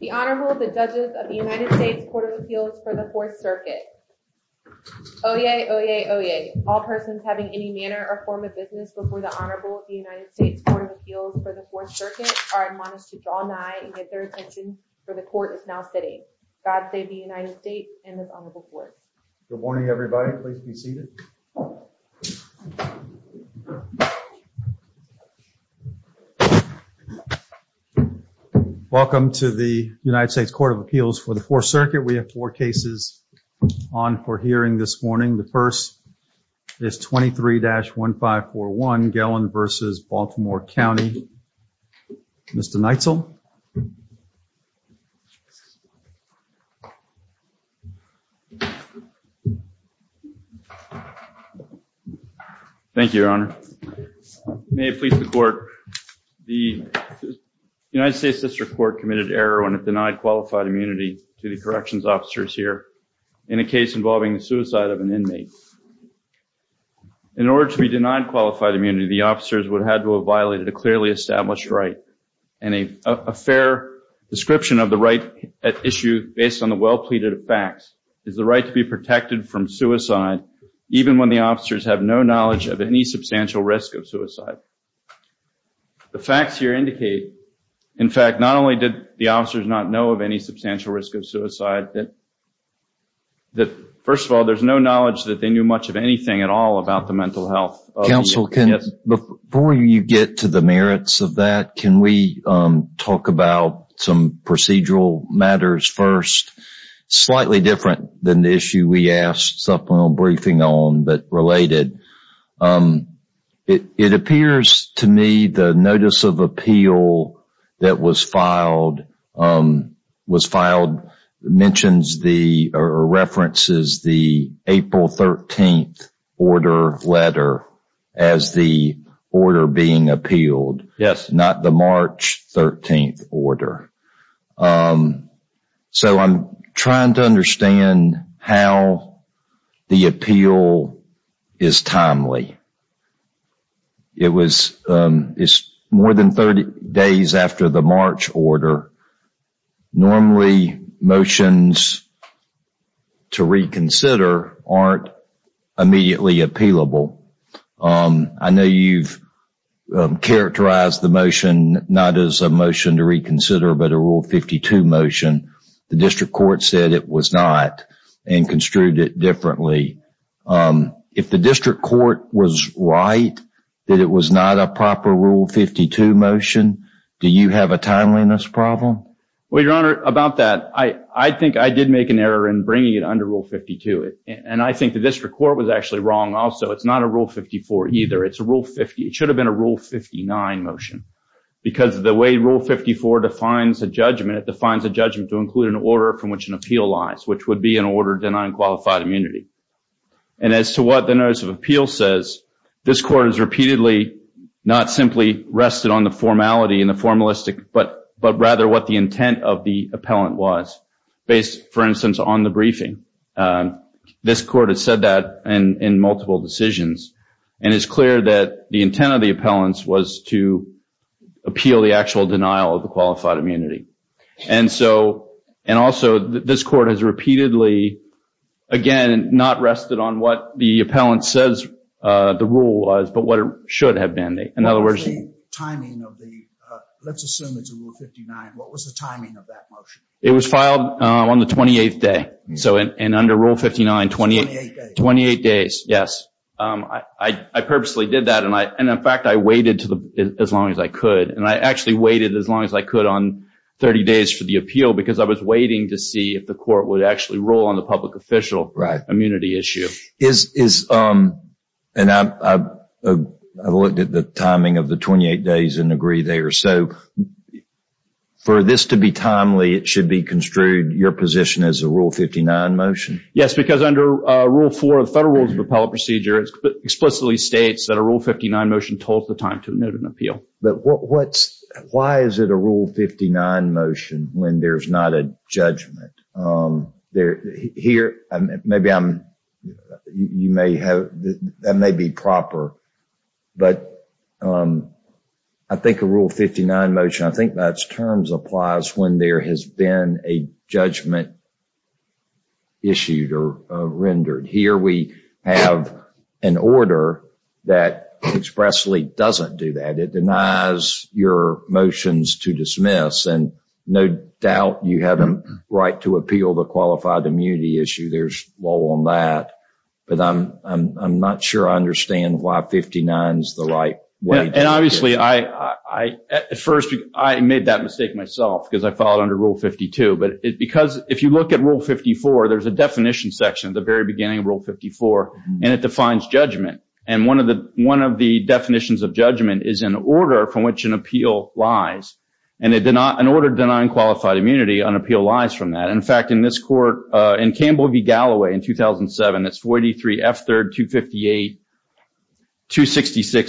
The Honorable, the Judges of the United States Court of Appeals for the Fourth Circuit. Oyez, oyez, oyez. All persons having any manner or form of business before the Honorable of the United States Court of Appeals for the Fourth Circuit are admonished to draw nigh and get their attention, for the Court is now sitting. God save the United States and this Honorable Court. Good morning, everybody. Please be seated. Welcome to the United States Court of Appeals for the Fourth Circuit. We have four cases on for hearing this morning. The first is 23-1541, Gelin v. Baltimore County. Mr. Neitzel. Thank you, Your Honor. May it please the Court. The United States District Court committed error when it denied qualified immunity to the corrections officers here in a case involving the suicide of an inmate. In order to be denied qualified immunity, the officers would have had to have violated a clearly established right and a fair description of the right at issue based on the facts. It is the right to be protected from suicide even when the officers have no knowledge of any substantial risk of suicide. The facts here indicate, in fact, not only did the officers not know of any substantial risk of suicide, that first of all, there's no knowledge that they knew much of anything at all about the mental health. Before you get to the merits of that, can we talk about some procedural matters first? Slightly different than the issue we asked supplemental briefing on, but related. It appears to me the notice of appeal that was filed mentions or references the April 13th order letter as the order being appealed, not the March 13th order. I'm trying to understand how the appeal is timely. It was more than 30 days after the March order. Normally, motions to reconsider aren't immediately appealable. I know you've characterized the motion not as a motion to reconsider, but a rule 52 motion. The district court said it was not and construed it differently. If the district court was right that it was not a proper rule 52 motion, do you have a timeliness problem? I think I did make an error in bringing it under rule 52. I think the district court was wrong also. It's not a rule 54 either. It should have been a rule 59 motion. The way rule 54 defines a judgment, it defines a judgment to include an order from which would be an order denying qualified immunity. As to what the notice of appeal says, this court has repeatedly not simply rested on the formality and the formalistic, but rather what the intent of the appellant was based, for instance, on the briefing. This court has said that in multiple decisions. It's clear that the intent of the appellants was to appeal the actual denial of the qualified immunity. Also, this court has repeatedly, again, not rested on what the appellant says the rule was, but what it should have been. Let's assume it's a rule 59. What was the timing of that motion? It was filed on the 28th day. Under rule 59, 28 days. I purposely did that. In fact, I waited as long as I could. I actually waited as long as I could on 30 days for the appeal because I was waiting to see if the court would actually roll on the public official immunity issue. I looked at the timing of the 28 days and agree there. For this to be timely, it should be construed your position as a rule 59 motion. Yes, because under rule 4 of the law, it simply states that a rule 59 motion told the time to note an appeal. But why is it a rule 59 motion when there's not a judgment? That may be proper, but I think a rule 59 motion, I think that's terms applies when there has been a judgment issued or rendered. Here, we have an order that expressly doesn't do that. It denies your motions to dismiss and no doubt you have a right to appeal the qualified immunity issue. There's law on that, but I'm not sure I understand why 59 is the right way. Obviously, at first, I made that mistake myself because I filed under rule 52. If you look at rule 54, there's a definition section at the very beginning of rule 54 and it defines judgment. One of the definitions of judgment is an order from which an appeal lies. An order denying qualified immunity on appeal lies from that. In fact, in this court, in Campbell v. Galloway in 2007, it's 43 F3258-266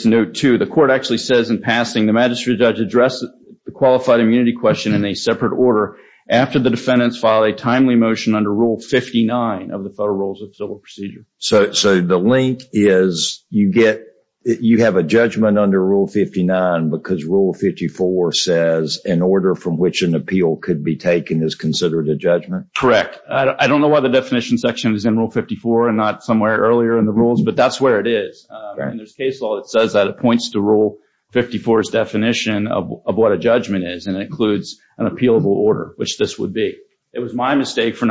note 2, the court actually says in passing, the magistrate judge addressed the qualified immunity question in a separate order after the defendants filed a timely motion under rule 59 of the Federal Rules of Civil Procedure. So, the link is you have a judgment under rule 59 because rule 54 says an order from which an appeal could be taken is considered a judgment? Correct. I don't know why the definition section is in rule 54 and not somewhere earlier in the rules, but that's where it is. There's case law that says that it points to rule 54's definition of what a judgment is and it includes an appealable order, which this would be. It was my mistake for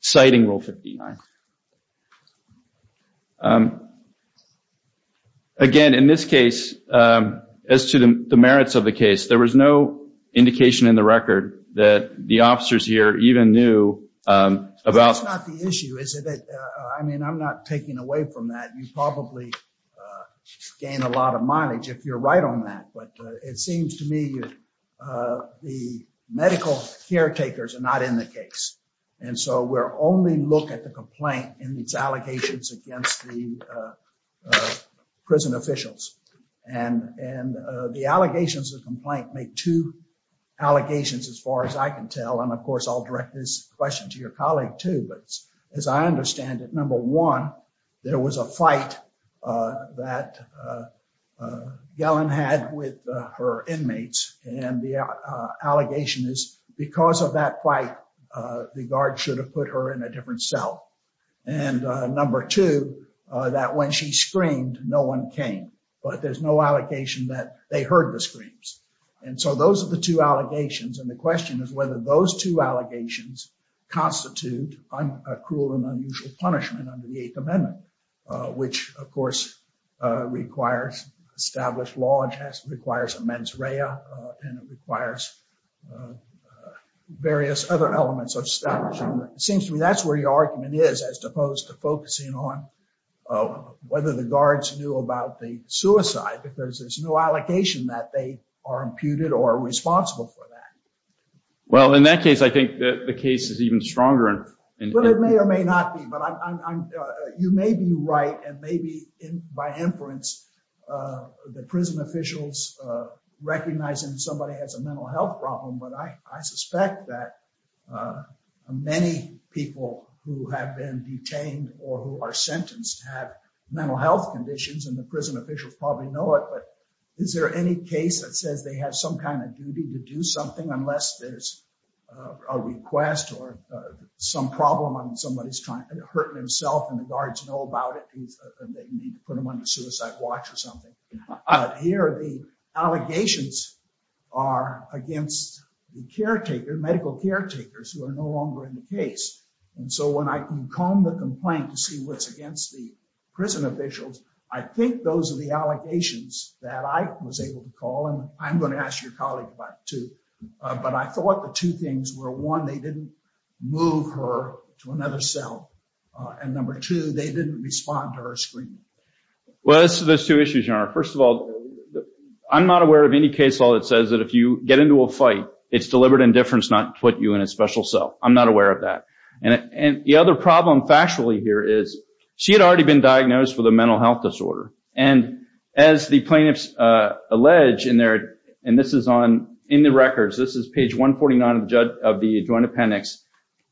citing rule 59. Again, in this case, as to the merits of the case, there was no indication in the record that the officers here even knew about- That's not the issue, is it? I mean, I'm not taking away from that. You probably gain a lot of mileage if you're right on that, but it seems to me the medical caretakers are not in the case. So, we'll only look at the complaint and its allegations against the prison officials. The allegations of complaint make two allegations as far as I can tell, and of course, I'll direct this question to your colleague too, but as I understand it, number one, there was a fight that Gellin had with her inmates and the allegation is because of that fight, the guard should have put her in a different cell. And number two, that when she screamed, no one came, but there's no allegation that they heard the screams. And so, those are the two allegations and the question is whether those two allegations constitute a cruel and unusual punishment under the Eighth Amendment, which of course requires established law and requires mens rea and it requires various other elements of establishment. It seems to me that's where your argument is as opposed to focusing on whether the guards knew about the suicide, because there's no allocation that they are imputed or responsible for that. Well, in that case, I think that the case is even stronger and- Well, it may or may not be, but you may be right and maybe by inference, the prison officials recognizing somebody has a mental health problem, but I suspect that many people who have been detained or who are sentenced have mental health conditions and the prison officials probably know it, but is there any case that says they have some kind of duty to do something unless there's a request or some problem on somebody's trying to hurt himself and the guards know about it and they put them under suicide watch or something. Here, the allegations are against the caretaker, medical caretakers who are no longer in the case. And so, when I can comb the complaint to see what's against the prison officials, I think those are the allegations that I was able to call and I'm going to ask your colleague about too, but I thought the two things were one, they didn't move her to another cell, and number two, they didn't respond to her screening. Well, it's those two issues, Your Honor. First of all, I'm not aware of any case law that says that if you get into a fight, it's deliberate indifference not to put you in a special cell. I'm not aware of that. And the other problem factually here is she had already been diagnosed with a mental health disorder. And as the plaintiffs allege in there, and this is on the records, this is page 149 of the adjoint appendix,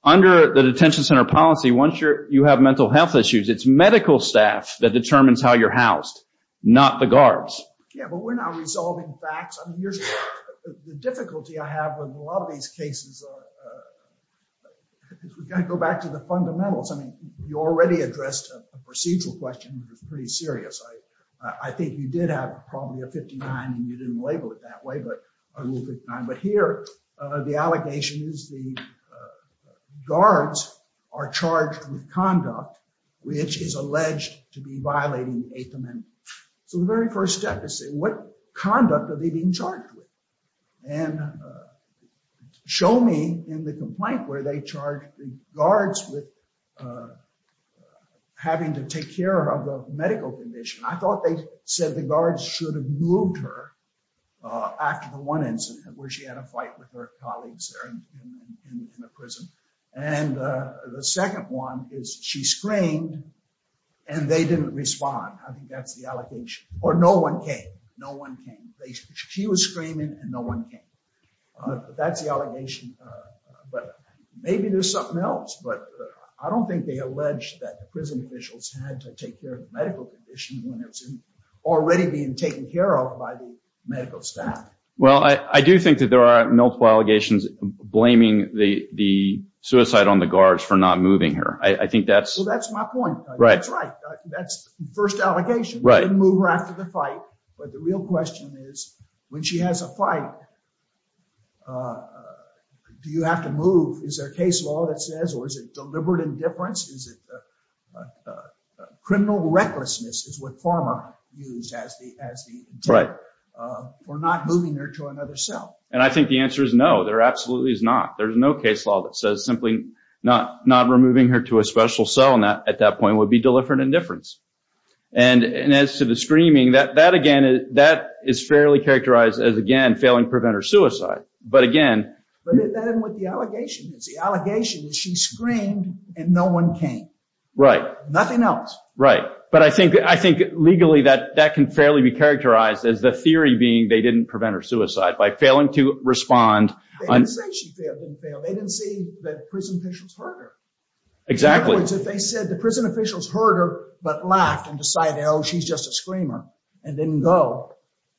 under the detention center policy, once you have mental health issues, it's medical staff that determines how you're housed, not the guards. Yeah, but we're not resolving facts. I mean, the difficulty I have with a lot of these cases is we've got to go back to the fundamentals. I mean, you already addressed a procedural question that was pretty serious. I think you did have probably a 59, and you didn't label it that way, but a rule 59. But here, the allegation is the guards are charged with conduct, which is alleged to be violating the Eighth Amendment. So the very first step is to say, what conduct are they being charged with? And show me in the complaint where they charge the guards with having to take care of the medical condition. I thought they said the guards should have moved her after the one incident where she had a fight with her colleagues there in the prison. And the second one is she screamed, and they didn't respond. I think that's the allegation. Or no one came. No one came. She was screaming, and no one came. That's the allegation. But maybe there's something else. But I don't think they allege that the prison officials had to take care of the medical condition when it was already being taken care of by the medical staff. Well, I do think that there are multiple allegations blaming the suicide on the guards for not moving her. I think that's... Well, that's my point. That's right. That's the first allegation. They didn't move her after the fight. But the real question is, when she has a fight, do you have to move? Is there a case law that says, or is it deliberate indifference? Is it criminal recklessness is what Pharma used as the tip for not moving her to another cell? And I think the answer is no. There absolutely is not. There's no case law that says simply not removing her to a special cell at that point would be deliberate indifference. And as to the screaming, that, again, that is fairly characterized as, again, failing to prevent her suicide. But again... But that isn't what the allegation is. The allegation is she screamed, and no one came. Right. Nothing else. Right. But I think legally that can fairly be characterized as the theory being they didn't prevent her suicide by failing to respond... They didn't say she failed. They didn't say that prison officials heard her. Exactly. In other words, they said the prison officials heard her, but laughed and decided, oh, she's just a screamer, and didn't go.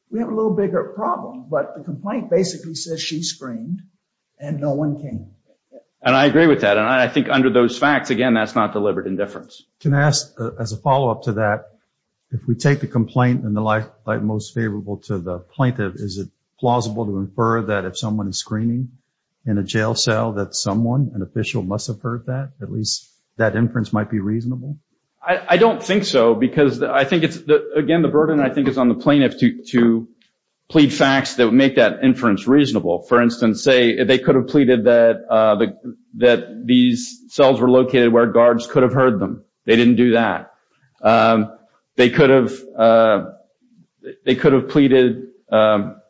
We have a little bigger problem. But the complaint basically says she screamed, and no one came. And I agree with that. And I think under those facts, again, that's not deliberate indifference. Can I ask, as a follow-up to that, if we take the complaint in the light most favorable to the plaintiff, is it plausible to infer that if someone is screaming in a jail cell that someone, an official, must have heard that? At least that inference might be reasonable? I don't think so, because I think it's... Again, the burden, I think, is on the plaintiff to plead facts that would make that inference reasonable. For instance, say they could have pleaded that these cells were located where guards could have heard them. They didn't do that. They could have pleaded... I'm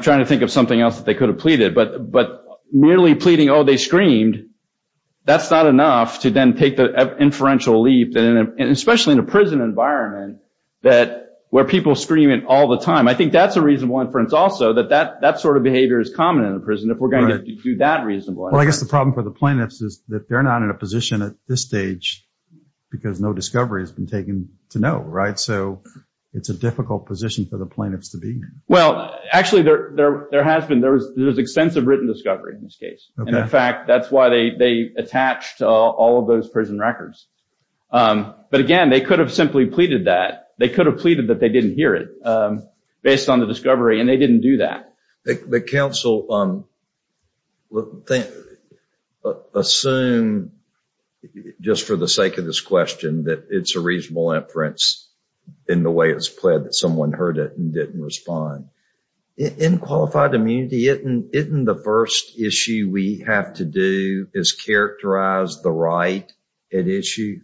trying to think of something else that they could have pleaded, but merely pleading, oh, they screamed, that's not enough to then take the inferential leap, especially in a prison environment where people scream it all the time. I think that's a reasonable inference also, that that sort of behavior is common in a prison if we're going to do that reasonably. Well, I guess the problem for the plaintiffs is that they're not in a position at this stage because no discovery has been taken to know, right? So it's a difficult position for the in this case. In fact, that's why they attached all of those prison records. But again, they could have simply pleaded that. They could have pleaded that they didn't hear it based on the discovery, and they didn't do that. The counsel assumed, just for the sake of this question, that it's a reasonable inference in the way it's pled that someone heard it and didn't respond. In qualified immunity, isn't the first issue we have to do is characterize the right at issue?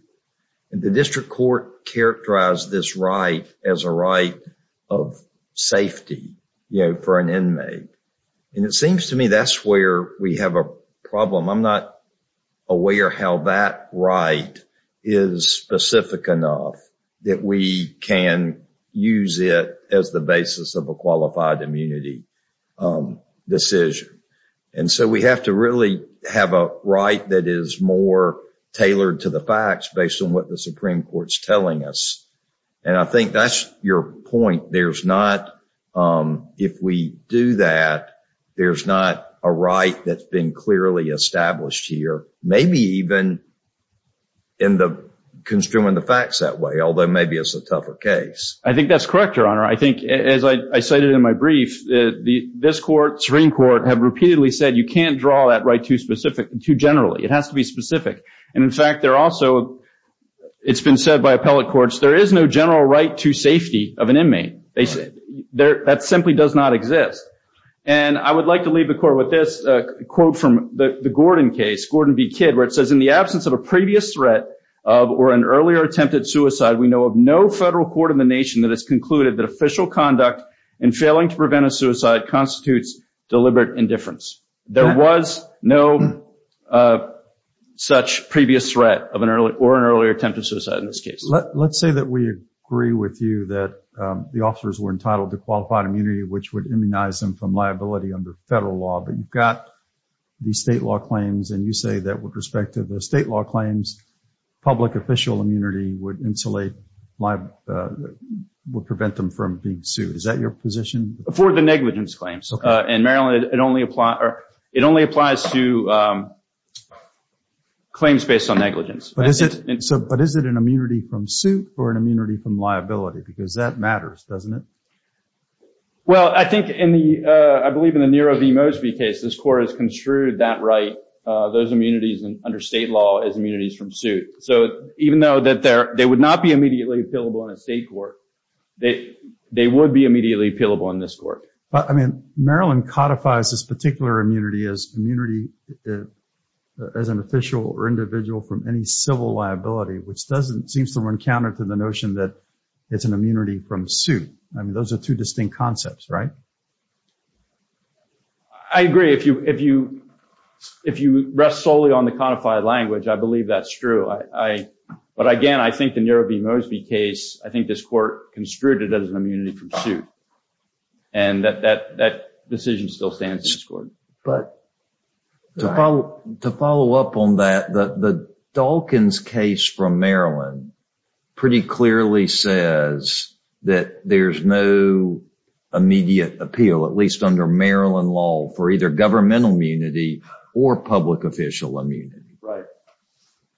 The district court characterized this right as a right of safety for an inmate. It seems to me that's where we have a problem. I'm not aware how that right is specific enough that we can use it as the basis of a qualified immunity decision. We have to really have a right that is more tailored to the facts based on what the Supreme Court's telling us. I think that's your point. If we do that, there's not a right that's been established here, maybe even in construing the facts that way, although maybe it's a tougher case. I think that's correct, Your Honor. I think, as I cited in my brief, this court, Supreme Court, have repeatedly said you can't draw that right too generally. It has to be specific. In fact, it's been said by appellate courts, there is no general right to safety of an inmate. That simply does not exist. I would like to leave the court with this quote from the Gordon case, Gordon v. Kidd, where it says, in the absence of a previous threat of or an earlier attempted suicide, we know of no federal court in the nation that has concluded that official conduct in failing to prevent a suicide constitutes deliberate indifference. There was no such previous threat or an earlier attempted suicide in this case. Let's say that we agree with you that the officers were entitled to qualified immunity, which would immunize them from liability under federal law, but you've got these state law claims, and you say that with respect to the state law claims, public official immunity would prevent them from being sued. Is that your position? For the negligence claims. In Maryland, it only applies to claims based on negligence. But is it an immunity from suit or an immunity from liability? Because that matters, doesn't it? Well, I think in the, I believe in the Nero v. Mosby case, this court has construed that right, those immunities under state law as immunities from suit. So even though that they would not be immediately appealable in a state court, they would be immediately appealable in this court. I mean, Maryland codifies this particular immunity as an official or individual from any civil liability, which seems to run counter to the notion that it's an immunity from suit. I mean, those are two distinct concepts, right? I agree. If you rest solely on the codified language, I believe that's true. But again, I think the Nero v. Mosby case, I think this court construed it as an immunity from suit. And that decision still stands in this court. But to follow up on that, the Dalkins case from Maryland pretty clearly says that there's no immediate appeal, at least under Maryland law, for either governmental immunity or public official immunity.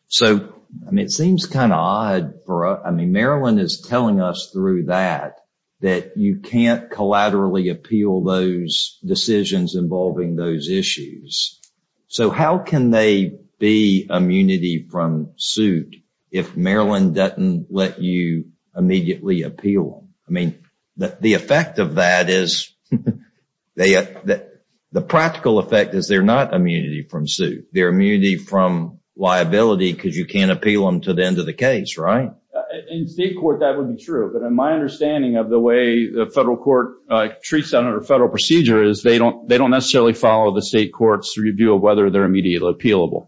So, I mean, it seems kind of odd for us. I mean, Maryland is telling us through that that you can't collaterally appeal those decisions involving those issues. So how can they be immunity from suit if Maryland doesn't let you immediately appeal? I mean, the effect of that is, the practical effect is they're not immunity from suit. They're immunity from liability because you can't appeal them to the end of the case, right? In state court, that would be true. But in my understanding of the way the federal court treats that under federal procedure is they don't necessarily follow the state court's review of whether they're immediately appealable.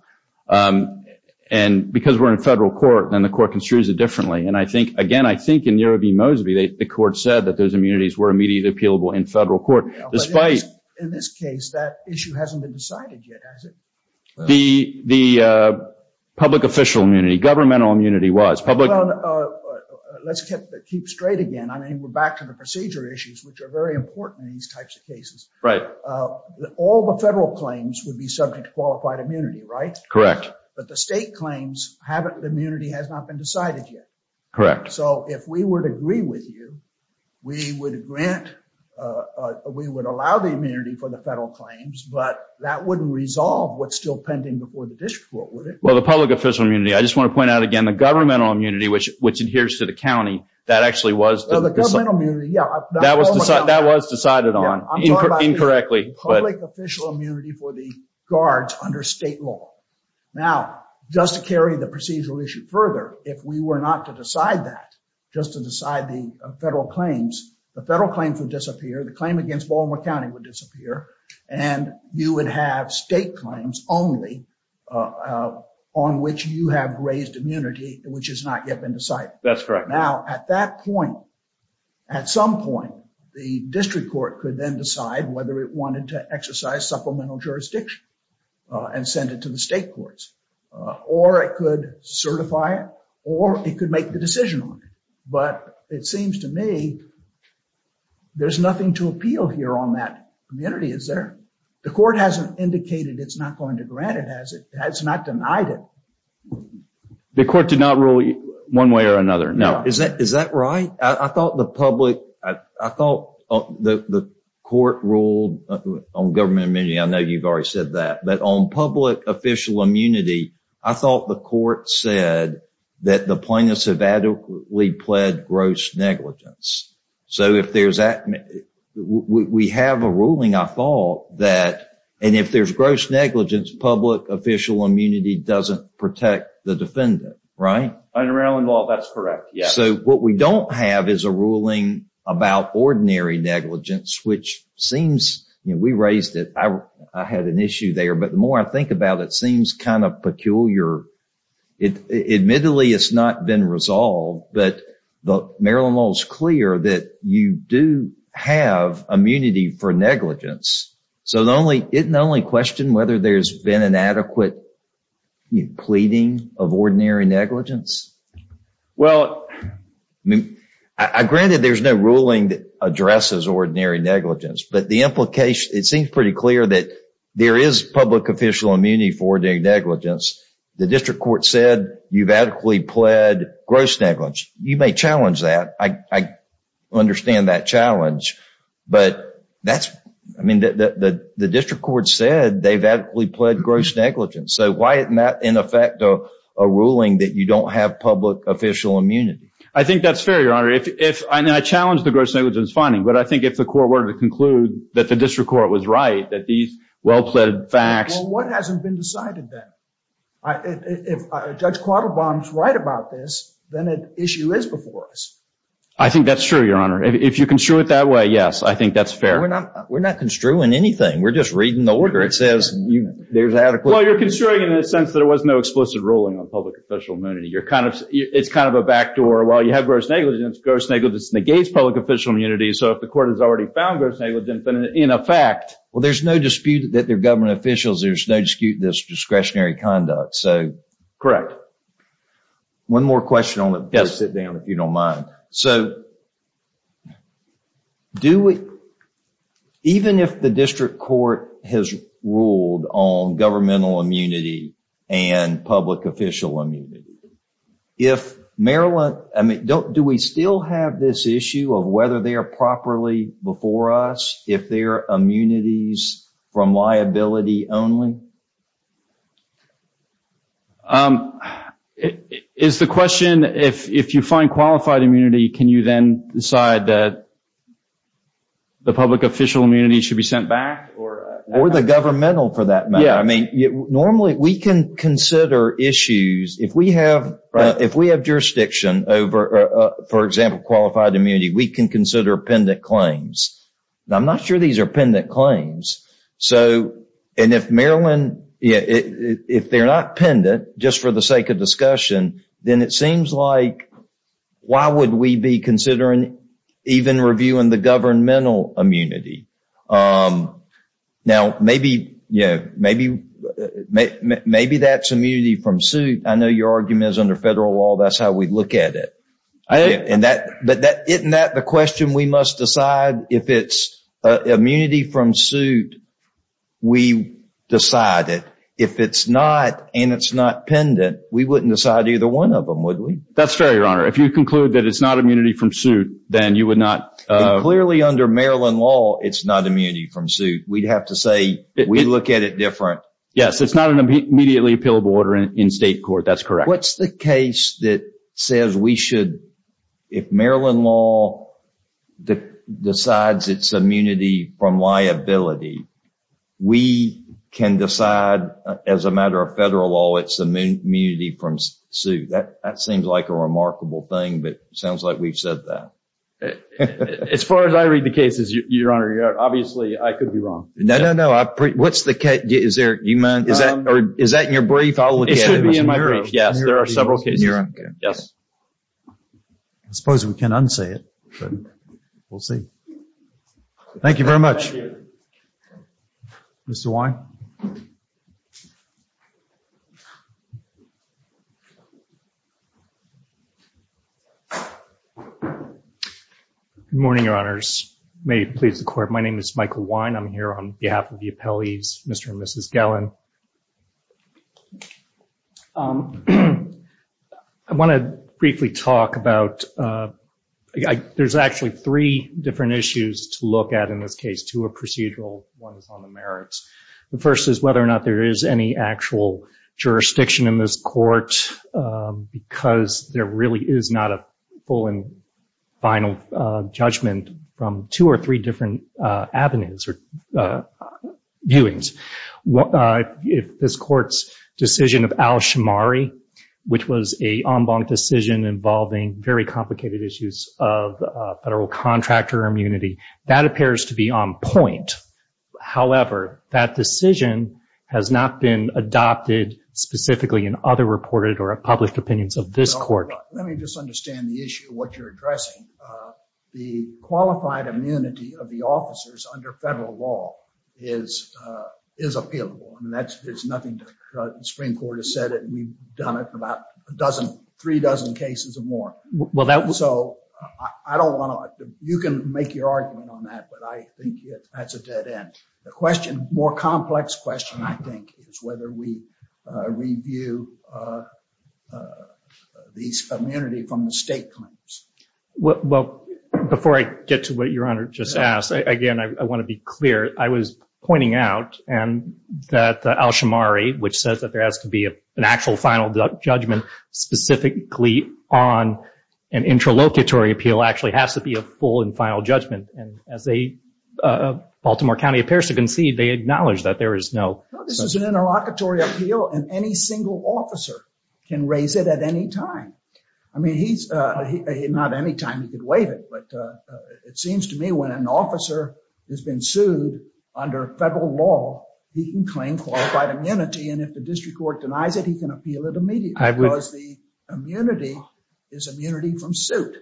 And because we're in federal court, then the court construes it differently. And I think, again, I think in Nero v. Mosby, the court said that those immunities were immediately appealable in federal court. In this case, that issue hasn't been decided yet, has it? The public official immunity, governmental immunity was. Let's keep straight again. I mean, back to the procedure issues, which are very important in these types of cases. All the federal claims would be subject to qualified immunity, right? Correct. But the state claims haven't, the immunity has not been decided yet. Correct. So if we would agree with you, we would grant, we would allow the immunity for the federal claims, but that wouldn't resolve what's still pending before the district court, would it? Well, the public official immunity, I just want to point out again, the governmental immunity, which adheres to the county, that actually was- The governmental immunity, yeah. That was decided on incorrectly. Public official immunity for the guards under state law. Now, just to carry the procedural issue further, if we were not to decide that, just to decide the federal claims, the federal claims would disappear, the claim against Baltimore County would disappear, and you would have state claims only on which you have raised immunity, which has not yet been decided. That's correct. Now, at that point, at some point, the district court could then decide whether it wanted to exercise supplemental jurisdiction and send it to the state courts, or it could certify it, or it could make the decision on it. But it seems to me there's nothing to appeal here on that community, is there? The court hasn't indicated it's not going to grant it, has it? It's not denied it. The court did not rule one way or another. No. Is that right? I thought the court ruled on government immunity. I know you've already said that. But on public official immunity, I thought the court said that the plaintiffs have adequately pled gross negligence. We have a ruling, I thought, that if there's gross negligence, public official immunity doesn't protect the defendant, right? Under Maryland law, that's correct, yes. So, what we don't have is a ruling about ordinary negligence, which seems, you know, we raised it. I had an issue there, but the more I think about it, it seems kind of peculiar. Admittedly, it's not been resolved, but Maryland law is clear that you do have immunity for negligence. So, it not only question whether there's been an adequate pleading of ordinary negligence? Well, I mean, granted there's no ruling that addresses ordinary negligence, but the implication, it seems pretty clear that there is public official immunity for ordinary negligence. The district court said you've adequately pled gross negligence. You may challenge that. I pled gross negligence. So, why isn't that, in effect, a ruling that you don't have public official immunity? I think that's fair, Your Honor. I challenge the gross negligence finding, but I think if the court were to conclude that the district court was right, that these well-pled facts... Well, what hasn't been decided then? If Judge Quattlebaum's right about this, then an issue is before us. I think that's true, Your Honor. If you construe it that way, yes, I think that's fair. We're not construing anything. We're just reading the order. There's adequate... Well, you're construing it in the sense that there was no explicit ruling on public official immunity. It's kind of a backdoor. While you have gross negligence, gross negligence negates public official immunity. So, if the court has already found gross negligence, then in effect... Well, there's no dispute that they're government officials. There's no dispute that it's discretionary conduct. Correct. One more question on it. Please sit down if you don't mind. So, do we... Even if the district court has ruled on governmental immunity and public official immunity, if Maryland... Do we still have this issue of whether they are properly before us if they're immunities from liability only? Is the question, if you find qualified immunity, can you then decide that the public official immunity should be sent back or... Or the governmental for that matter. Normally, we can consider issues. If we have jurisdiction over, for example, qualified immunity, we can consider appendant claims. I'm not sure these are appendant claims. And if Maryland... If they're not appendant, just for the sake of discussion, then it seems like, why would we be considering even reviewing the governmental immunity? Now, maybe that's immunity from suit. I know your argument is under federal law, that's how we look at it. But isn't that the question we must decide? If it's immunity from suit, we decide it. If it's not and it's not pendant, we wouldn't decide either one of them, would we? That's fair, Your Honor. If you conclude that it's not immunity from suit, then you would not... Clearly under Maryland law, it's not immunity from suit. We'd have to say, we look at it different. Yes, it's not an immediately appealable order in state court. What's the case that says we should... If Maryland law decides it's immunity from liability, we can decide as a matter of federal law, it's immunity from suit. That seems like a remarkable thing, but it sounds like we've said that. As far as I read the cases, Your Honor, obviously, I could be wrong. No, no, no. What's the case? Is that in your brief? It should be in my brief. Yes, there are several cases. Yes. I suppose we can't unsay it, but we'll see. Thank you very much, Mr. Wine. Good morning, Your Honors. May it please the court. My name is Michael Wine. I'm here on behalf of the appellees, Mr. and Mrs. Gellin. I want to briefly talk about... There's actually three different issues to look at in this case, two are procedural, one is on the merits. The first is whether or not there is any actual jurisdiction in this court, because there really is not a full and final judgment from two or three different avenues. Viewings. If this court's decision of Al-Shamari, which was a en banc decision involving very complicated issues of federal contractor immunity, that appears to be on point. However, that decision has not been adopted specifically in other reported or published opinions of this court. Let me just understand the issue, what you're addressing. The qualified immunity of the law is appealable. There's nothing to... The Supreme Court has said it, we've done it about three dozen cases or more. You can make your argument on that, but I think that's a dead end. The question, more complex question, I think, is whether we review these immunity from the state claims. Well, before I get to what Your Honor just asked, again, I want to be clear. I was pointing out that Al-Shamari, which says that there has to be an actual final judgment specifically on an interlocutory appeal, actually has to be a full and final judgment. And as Baltimore County appears to concede, they acknowledge that there is no... This is an interlocutory appeal and any single officer can raise it at any time. I mean, he's... Not anytime you could waive it, but it seems to me when an officer has been sued under federal law, he can claim qualified immunity. And if the district court denies it, he can appeal it immediately because the immunity is immunity from suit.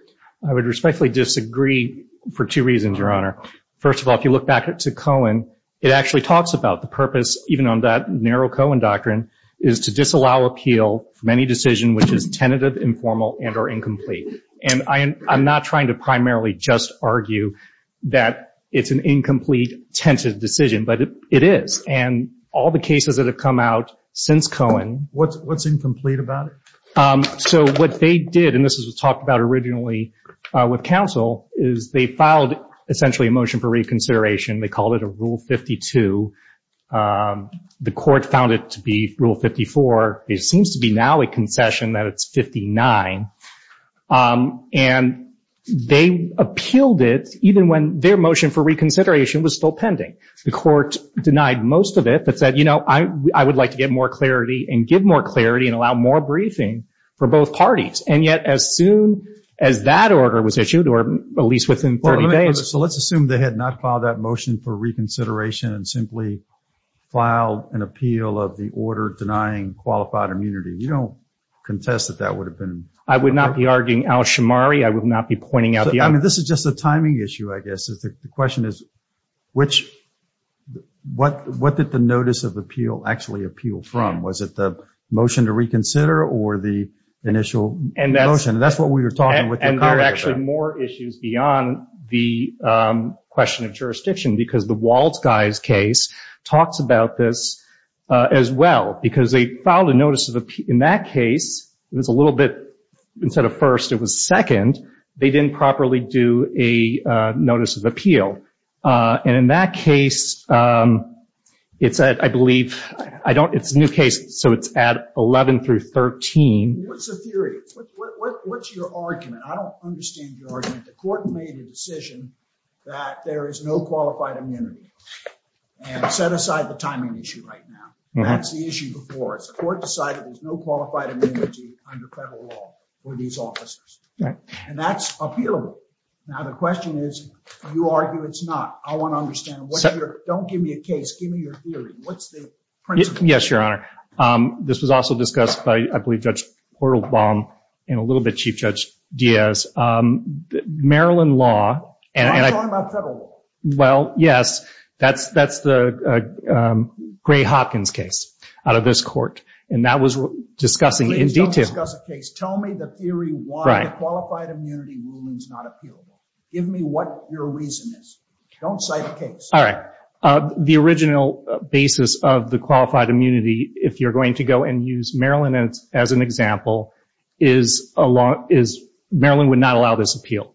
I would respectfully disagree for two reasons, Your Honor. First of all, if you look back to Cohen, it actually talks about the purpose, even on that narrow Cohen doctrine, is to disallow appeal from any decision which is tentative, informal, and or incomplete. And I'm not trying to primarily just argue that it's an incomplete, tentative decision, but it is. And all the cases that have come out since Cohen... What's incomplete about it? So what they did, and this is what was talked about originally with counsel, is they filed essentially a motion for reconsideration. They called it a Rule 52. The court found it to be Rule 54. It seems to be now a concession that it's 59. And they appealed it even when their motion for reconsideration was still pending. The court denied most of it, but said, you know, I would like to get more clarity and give more clarity and allow more briefing for both parties. And yet as soon as that order was issued, or at least within 30 days... So let's assume they had not filed that motion for reconsideration and simply filed an appeal of the order denying qualified immunity. You don't contest that that would have been... I would not be arguing Al-Shammari. I would not be pointing out the... I mean, this is just a timing issue, I guess. The question is, what did the notice of appeal actually appeal from? Was it the motion to reconsider or the initial motion? And that's what we were talking with your courier about. And there are actually more issues beyond the question of jurisdiction, because the Waltz guy's case talks about this as well, because they filed a notice of... In that case, it was a little bit... Instead of first, it was second. They didn't properly do a notice of appeal. And in that case, it said, I believe... I don't... It's a new case, so it's at 11 through 13. What's the theory? What's your argument? I don't understand your argument. The court made a decision that there is no qualified immunity and set aside the timing issue right now. That's the issue before us. The court decided there's no qualified immunity under federal law for these officers. And that's appealable. Now, the question is, you argue it's not. I want to understand what your... Don't give me a case. Give me your theory. What's the principle? Yes, Your Honor. This was also discussed by, I believe, Judge Portalbaum and a little bit Chief Judge Diaz. Maryland law and... I'm talking about federal law. Well, yes. That's the Gray-Hopkins case out of this court. And that was discussing in detail. Please don't discuss a case. Tell me the theory why qualified immunity ruling is not appealable. Give me what your reason is. Don't cite a case. All right. The original basis of the Maryland would not allow this appeal.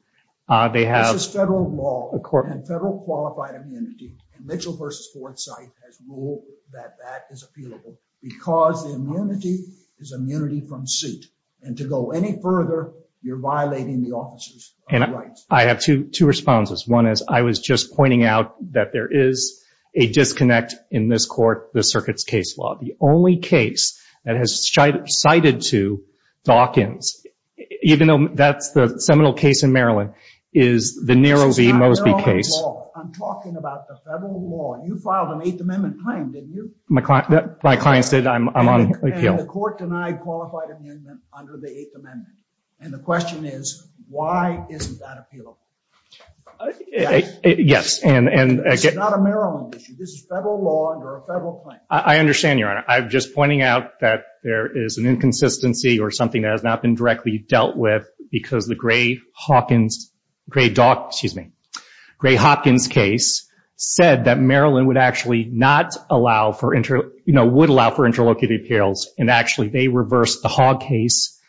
This is federal law and federal qualified immunity. And Mitchell v. Forsythe has ruled that that is appealable because the immunity is immunity from suit. And to go any further, you're violating the officer's rights. I have two responses. One is, I was just pointing out that there is a disconnect in this court, the circuit's case law. The only that has cited to Dawkins, even though that's the seminal case in Maryland, is the Nero v. Mosby case. I'm talking about the federal law. You filed an Eighth Amendment claim, didn't you? My client said I'm on appeal. And the court denied qualified amendment under the Eighth Amendment. And the question is, why isn't that appealable? Yes. And... It's not a Maryland issue. This is federal law under a federal claim. I understand, Your Honor. I'm just pointing out that there is an inconsistency or something that has not been directly dealt with because the Gray-Hopkins case said that Maryland would actually not allow for... Would allow for interlocutory appeals. And actually, they reversed the Hogg case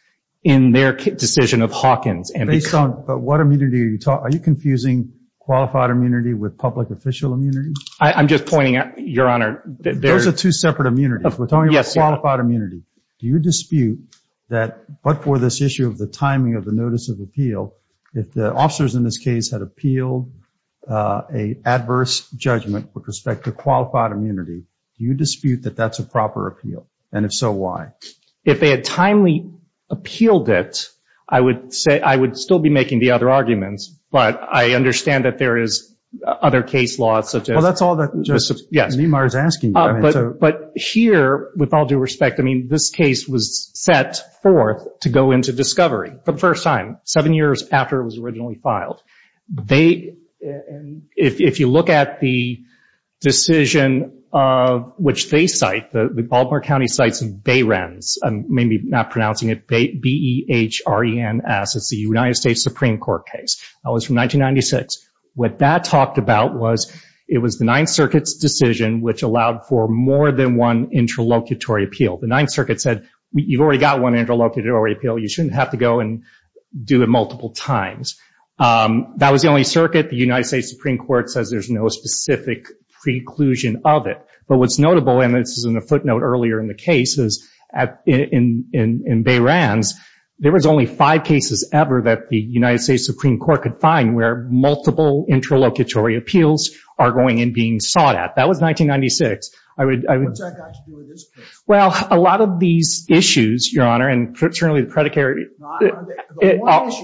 in their decision of Hawkins. Based on what immunity are you talking... Are you confusing qualified immunity with public official immunity? I'm just pointing out, Your Honor... Those are two separate immunities. We're talking about qualified immunity. Do you dispute that, but for this issue of the timing of the notice of appeal, if the officers in this case had appealed a adverse judgment with respect to qualified immunity, do you dispute that that's a proper appeal? And if so, why? If they had timely appealed it, I would say... I would still be making the other arguments, but I understand that there is other case laws such as... Yes. But here, with all due respect, I mean, this case was set forth to go into discovery for the first time, seven years after it was originally filed. If you look at the decision which they cite, the Baltimore County Cites of Behrens, I'm maybe not pronouncing it B-E-H-R-E-N-S, it's the United States Supreme Court case. That was from 1996. What that talked about was it was the Ninth Circuit's decision which allowed for more than one interlocutory appeal. The Ninth Circuit said, you've already got one interlocutory appeal. You shouldn't have to go and do it multiple times. That was the only circuit. The United States Supreme Court says there's no specific preclusion of it. But what's notable, and this is in a footnote earlier in the case, is in Behrens, there was only five cases ever that the United States Supreme Court could find where multiple interlocutory appeals are going and being sought at. That was 1996. What's that got to do with this case? Well, a lot of these issues, Your Honor, and certainly the predicate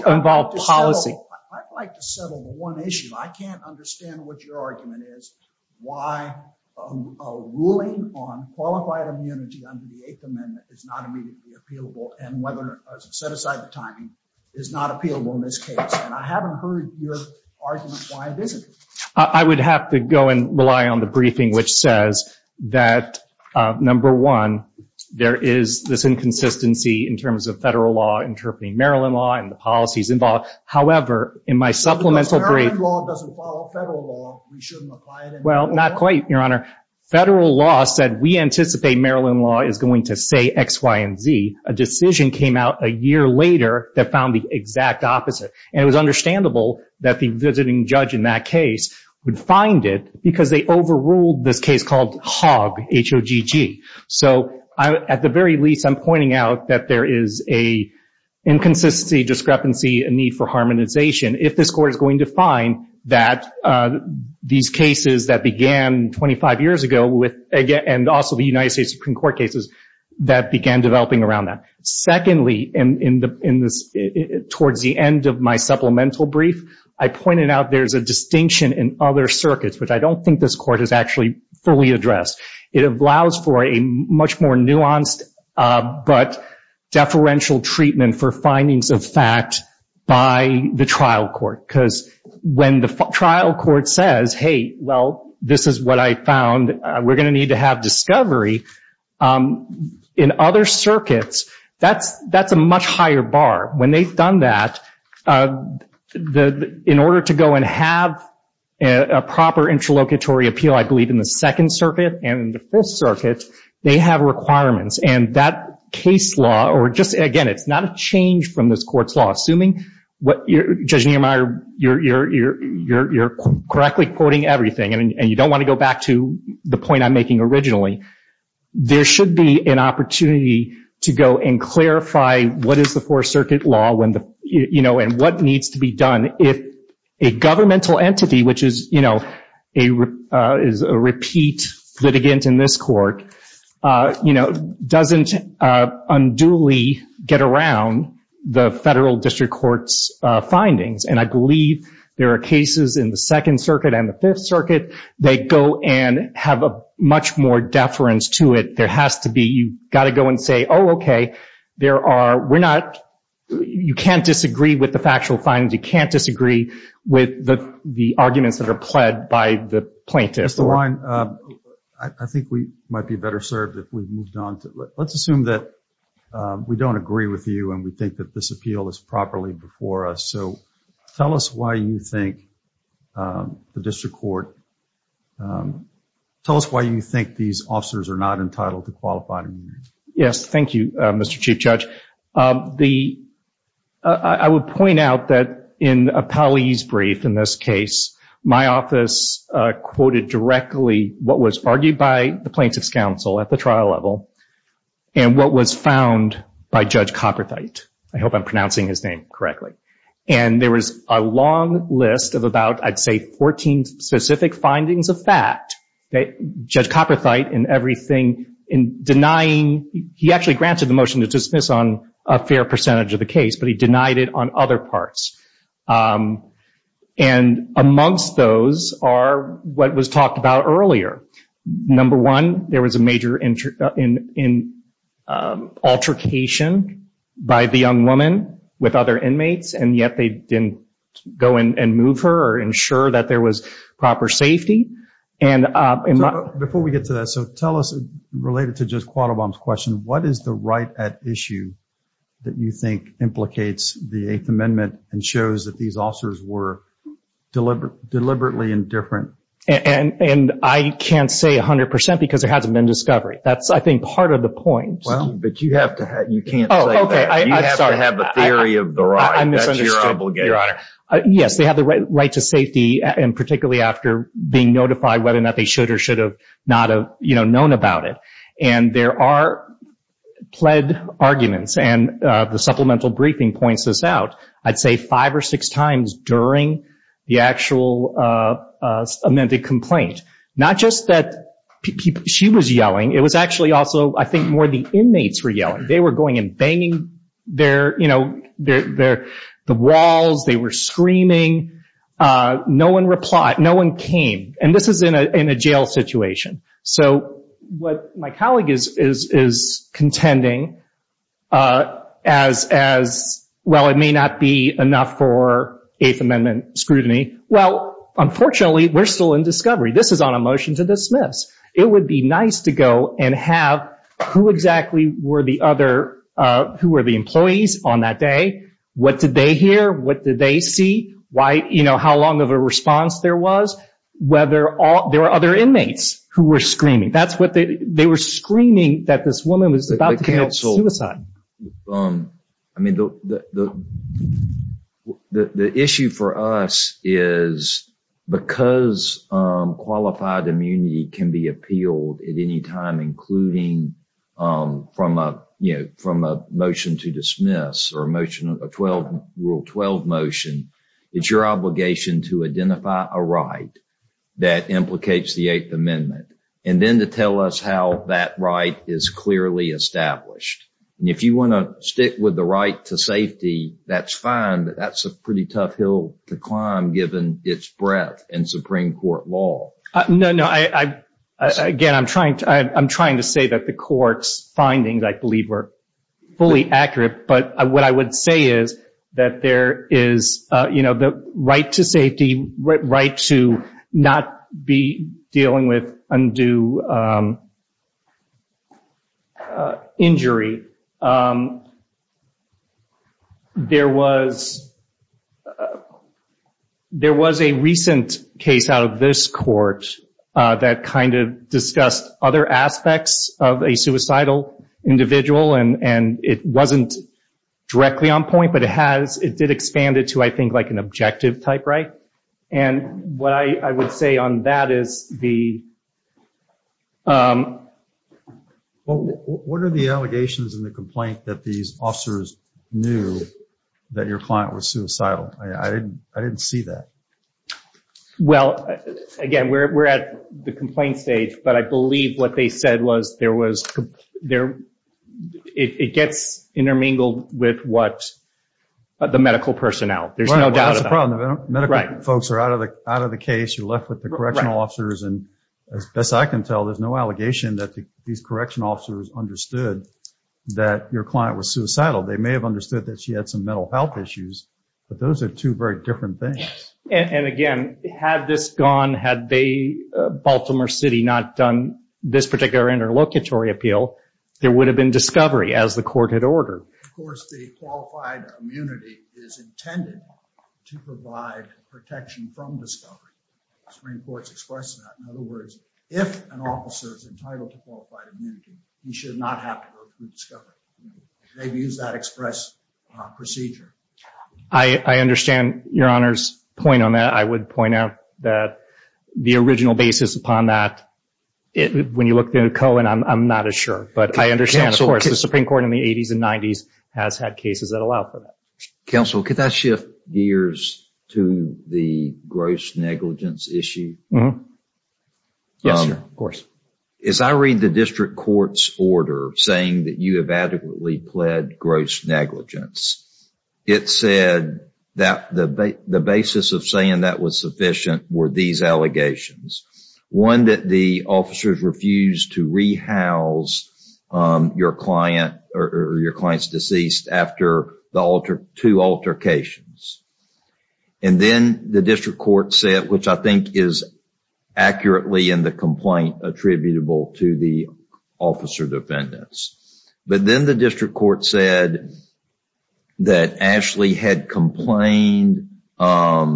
involved policy. I'd like to settle one issue. I can't understand what your argument is, why a ruling on qualified immunity under the Eighth Amendment is not immediately appealable and whether, set aside the timing, is not appealable in this case. I haven't heard your argument why it isn't. I would have to go and rely on the briefing which says that, number one, there is this inconsistency in terms of federal law interpreting Maryland law and the policies involved. However, in my supplemental brief— Because Maryland law doesn't follow federal law, we shouldn't apply it anymore. Well, not quite, Your Honor. Federal law said we anticipate Maryland law is going to say X, Y, and Z. A decision came out a year later that found the exact opposite. It was understandable that the visiting judge in that case would find it because they overruled this case called Hogg, H-O-G-G. At the very least, I'm pointing out that there is an inconsistency, discrepancy, and need for harmonization if this Court is going to find that these cases that began 25 years ago and also the United States Supreme Court cases that began developing around that. Secondly, towards the end of my supplemental brief, I pointed out there's a distinction in other circuits which I don't think this Court has actually fully addressed. It allows for a much more nuanced but deferential treatment for findings of fact by the trial court because when the trial court says, hey, well, this is what I we're going to need to have discovery in other circuits, that's a much higher bar. When they've done that, in order to go and have a proper interlocutory appeal, I believe in the Second Circuit and in the Fifth Circuit, they have requirements. And that case law or just, again, it's not a change from this Court's law. Assuming Judge Niemeyer, you're correctly quoting everything and you don't want to go back to the point I'm making originally, there should be an opportunity to go and clarify what is the Fourth Circuit law and what needs to be done if a governmental entity, which is a repeat litigant in this Court, you know, doesn't unduly get around the Federal District Court's findings. And I believe there are cases in the Second Circuit and the Fifth Circuit that go and have a much more deference to it. There has to be, you've got to go and say, oh, okay, there are, we're not, you can't disagree with the factual findings, you can't disagree with the arguments that are by the plaintiff. Mr. Wine, I think we might be better served if we've moved on to, let's assume that we don't agree with you and we think that this appeal is properly before us. So tell us why you think the District Court, tell us why you think these officers are not entitled to qualified immunity. Yes, thank you, Mr. Chief Judge. The, I would point out that in Appellee's brief in this case, my office quoted directly what was argued by the Plaintiff's Counsel at the trial level and what was found by Judge Copperthite. I hope I'm pronouncing his name correctly. And there was a long list of about, I'd say, 14 specific findings of fact that Judge Copperthite in everything, in denying, he actually granted the motion to dismiss on a fair percentage of the case, but he denied it on other parts. And amongst those are what was talked about earlier. Number one, there was a major altercation by the young woman with other inmates, and yet they didn't go and move her or ensure that there was proper safety. Before we get to that, so tell us, related to Judge Quattlebaum's question, what is the right at issue that you think implicates the Eighth Amendment and shows that these officers were deliberately indifferent? And I can't say 100% because there hasn't been discovery. That's, I think, part of the point. Well, but you have to have, you can't say that. You have to have a theory of the right. I misunderstood, Your Honor. Yes, they have the right to safety, and particularly after being notified whether or not they should or should have not known about it. And there are pled arguments, and the supplemental briefing points this out, I'd say five or six times during the actual amended complaint. Not just that she was yelling, it was actually also, I think, more the inmates were yelling. They were going and banging their, you know, the walls. They were screaming. No one replied. No one came. And this is in a jail situation. So what my colleague is contending as, well, it may not be enough for Eighth Amendment scrutiny. Well, unfortunately, we're still in discovery. This is on a motion to dismiss. It would be nice to go and have who exactly were the other, who were the employees on that day? What did they hear? What did they see? Why, you know, how long of a response there was? Whether there were other inmates who were screaming. That's what they, they were screaming that this woman was about to commit suicide. I mean, the issue for us is because qualified immunity can be appealed at any time, including from a, you know, from a motion to dismiss or a motion of a 12, Rule 12 motion. It's your obligation to identify a right that implicates the Eighth Amendment and then to tell us how that right is clearly established. And if you want to stick with the right to safety, that's fine, but that's a pretty tough hill to climb given its breadth in Supreme Court law. No, no. I, again, I'm trying to, I'm trying to say that the court's findings, I believe, were fully accurate. But what I would say is that there is, you know, the right to safety, right to not be dealing with undue injury. There was, uh, there was a recent case out of this court that kind of discussed other aspects of a suicidal individual and, and it wasn't directly on point, but it has, it did expand it to, I think, like an objective type right. And what I would say on that is the, um... Well, what are the allegations in the complaint that these officers knew that your client was suicidal? I didn't, I didn't see that. Well, again, we're, we're at the complaint stage, but I believe what they said was there was there, it gets intermingled with what the medical personnel, there's no doubt about it. Medical folks are out of the, out of the case. You're left with the correctional officers. And as best I can tell, there's no allegation that these correctional officers understood that your client was suicidal. They may have understood that she had some mental health issues, but those are two very different things. And again, had this gone, had they, uh, Baltimore City not done this particular interlocutory appeal, there would have been discovery as the court had ordered. Of course, the qualified immunity is intended to provide protection from discovery. Supreme Court's expressed that. In other words, if an officer is entitled to qualified immunity, he should not have to go through discovery. They've used that express procedure. I understand your Honor's point on that. I would point out that the original basis upon that, when you look at Cohen, I'm not as sure, but I understand, of course, the Supreme Court in the 80s and 90s has had cases that allow for that. Counsel, could I shift gears to the gross negligence issue? Mm-hmm. Yes, of course. As I read the district court's order saying that you have adequately pled gross negligence, it said that the basis of saying that was sufficient were these allegations. One, that the officers refused to rehouse your client or your client's deceased after two altercations. Then the district court said, which I think is accurately in the complaint attributable to the officer defendants, but then the district court said that Ashley had complained that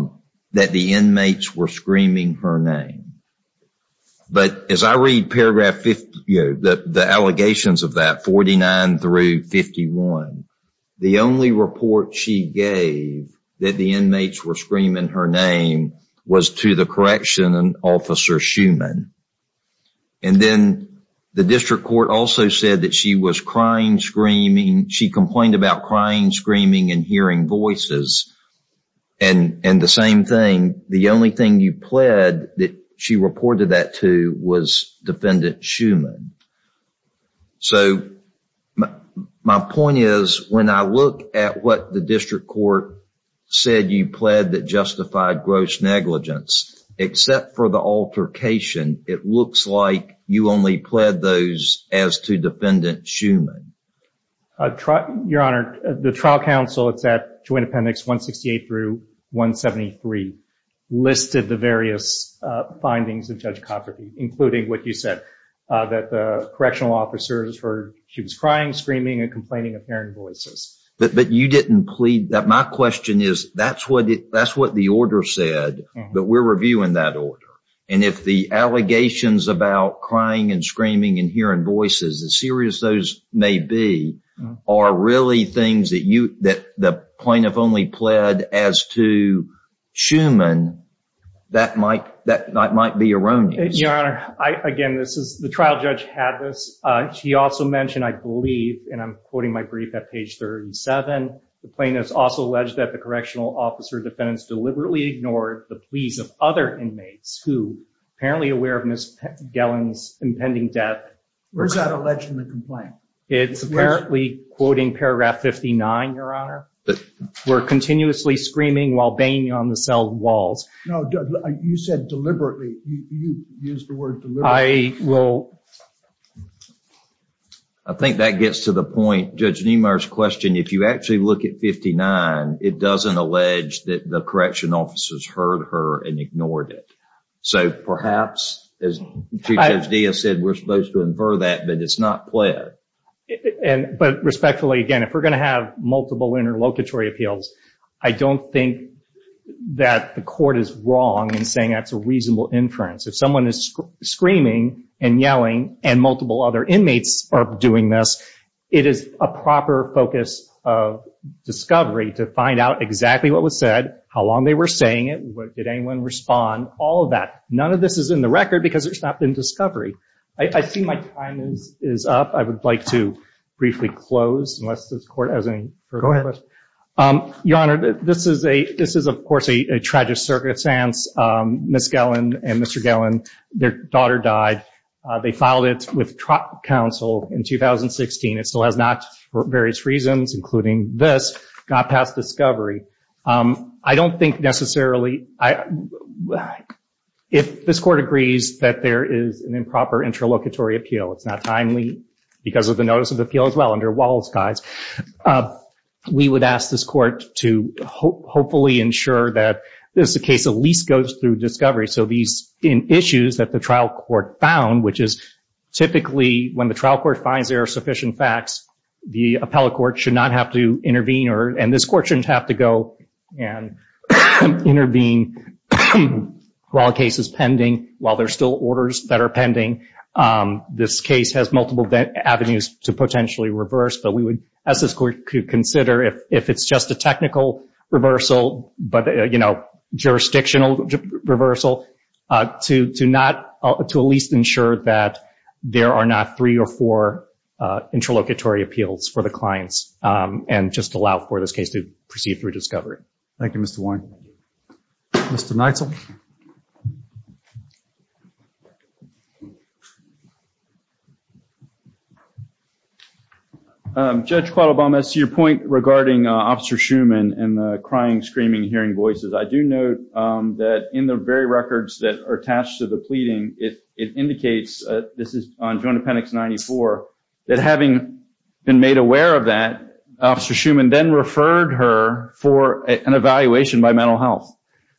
the inmates were screaming her name. As I read paragraph 50, the allegations of that, 49 through 51, the only report she gave that the inmates were screaming her name was to the correction officer, Schumann. Then the district court also said that she complained about crying, screaming, and hearing voices. The same thing, the only thing you pled that she reported that to was defendant Schumann. My point is, when I look at what the district court said you pled that justified gross negligence, except for the altercation, it looks like you only pled those as to defendant Schumann. Your Honor, the trial counsel, it's at Joint Appendix 168 through 173, listed the various findings of Judge Cofferty, including what you said, that the correctional officers heard she was crying, screaming, and complaining of hearing voices. But you didn't plead that. My question is, that's what the order said, but we're reviewing that order. If the allegations about crying and screaming and hearing voices, as serious as those may be, are really things that the plaintiff only pled as to Schumann, that might be erroneous. Your Honor, again, the trial judge had this. She also mentioned, I believe, and I'm quoting my brief at page 37, the plaintiff also alleged that the correctional officer defendants deliberately ignored the pleas of other inmates who, apparently aware of Ms. Gellin's impending death. Where's that alleged in the complaint? It's apparently, quoting paragraph 59, Your Honor, were continuously screaming while banging on the cell walls. No, you said deliberately. You used the word deliberately. I will. I think that gets to the point. Judge Niemeyer's question, if you actually look at 59, it doesn't allege that the correctional officers heard her and ignored it. So perhaps, as Chief Judge Diaz said, we're supposed to infer that, but it's not pled. But respectfully, again, if we're going to have multiple interlocutory appeals, I don't think that the court is wrong in saying that's a reasonable inference. If someone is screaming and yelling and multiple other inmates are doing this, it is a proper focus of discovery to find out exactly what was said, how long they were saying it, did anyone respond, all of that. None of this is in the record because there's not been discovery. I see my time is up. I would like to briefly close. Your Honor, this is, of course, a tragic circumstance. Ms. Gellin and Mr. Gellin, their daughter died. They filed it with counsel in 2016. It still has not, for various reasons, including this, got past discovery. I don't think necessarily, if this court agrees that there is an improper interlocutory appeal, it's not timely because of the notice of appeal as well under Walsh's guise, we would ask this court to hopefully ensure that this case at least goes through discovery. These issues that the trial court found, which is typically when the trial court finds there are sufficient facts, the appellate court should not have to intervene, and this court shouldn't have to go and intervene while a case is pending, while there are still orders that are pending. This case has multiple avenues to potentially reverse, but we would ask this reversal, jurisdictional reversal, to at least ensure that there are not three or four interlocutory appeals for the clients and just allow for this case to proceed through discovery. Thank you, Mr. Warren. Mr. Neitzel. Thank you, Judge. Judge Qualabama, to your point regarding Officer Shuman and the crying, screaming, hearing voices, I do note that in the very records that are attached to the pleading, it indicates, this is on Joint Appendix 94, that having been made aware of that, Officer Shuman then referred her for an evaluation by mental health.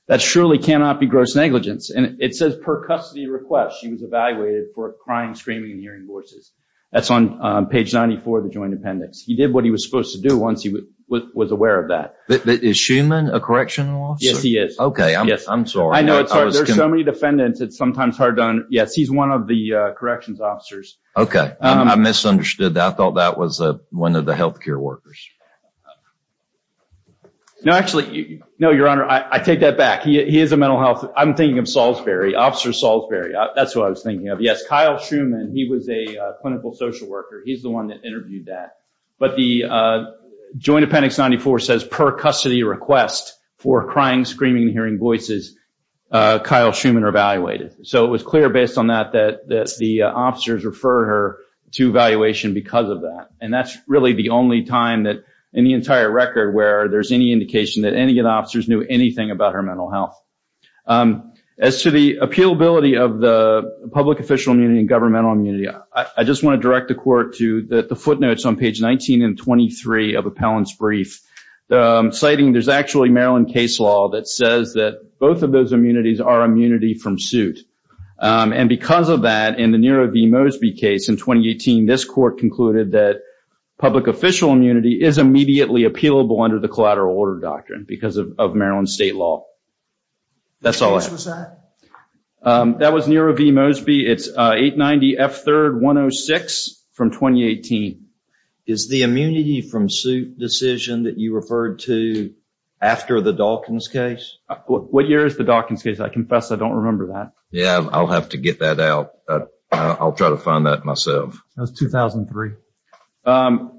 That surely cannot be gross negligence, and it says per custody request, she was evaluated for crying, screaming, and hearing voices. That's on page 94 of the Joint Appendix. He did what he was supposed to do once he was aware of that. Is Shuman a correctional officer? Yes, he is. Okay, I'm sorry. I know, it's hard. There's so many defendants, it's sometimes hard. Yes, he's one of the corrections workers. No, actually, no, Your Honor, I take that back. He is a mental health, I'm thinking of Salisbury, Officer Salisbury. That's who I was thinking of. Yes, Kyle Shuman, he was a clinical social worker. He's the one that interviewed that. But the Joint Appendix 94 says per custody request for crying, screaming, and hearing voices, Kyle Shuman evaluated. So it was clear based on that, that the officers refer her to evaluation because of that. And that's really the only time that, in the entire record, where there's any indication that any of the officers knew anything about her mental health. As to the appealability of the public official immunity and governmental immunity, I just want to direct the Court to the footnotes on page 19 and 23 of Appellant's brief, citing there's actually Maryland case law that says that both of those immunities are immunity from suit. And because of that, in the Nero v. Mosby case in 2018, this Court concluded that public official immunity is immediately appealable under the collateral order doctrine because of Maryland state law. That's all I have. Which was that? That was Nero v. Mosby. It's 890 F3-106 from 2018. Is the immunity from suit decision that you referred to after the Dalkins case? What year is the Dalkins case? I confess I don't remember that. Yeah, I'll have to get that out. I'll try to find that myself. That was 2003.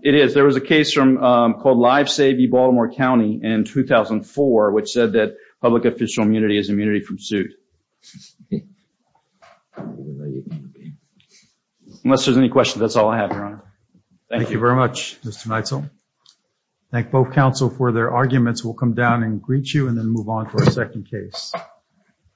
It is. There was a case called Live Save Baltimore County in 2004, which said that public official immunity is immunity from suit. Unless there's any questions, that's all I have, Your Honor. Thank you very much, Mr. Neitzel. Thank both counsel for their arguments. We'll come down and greet you and then move on to our second case.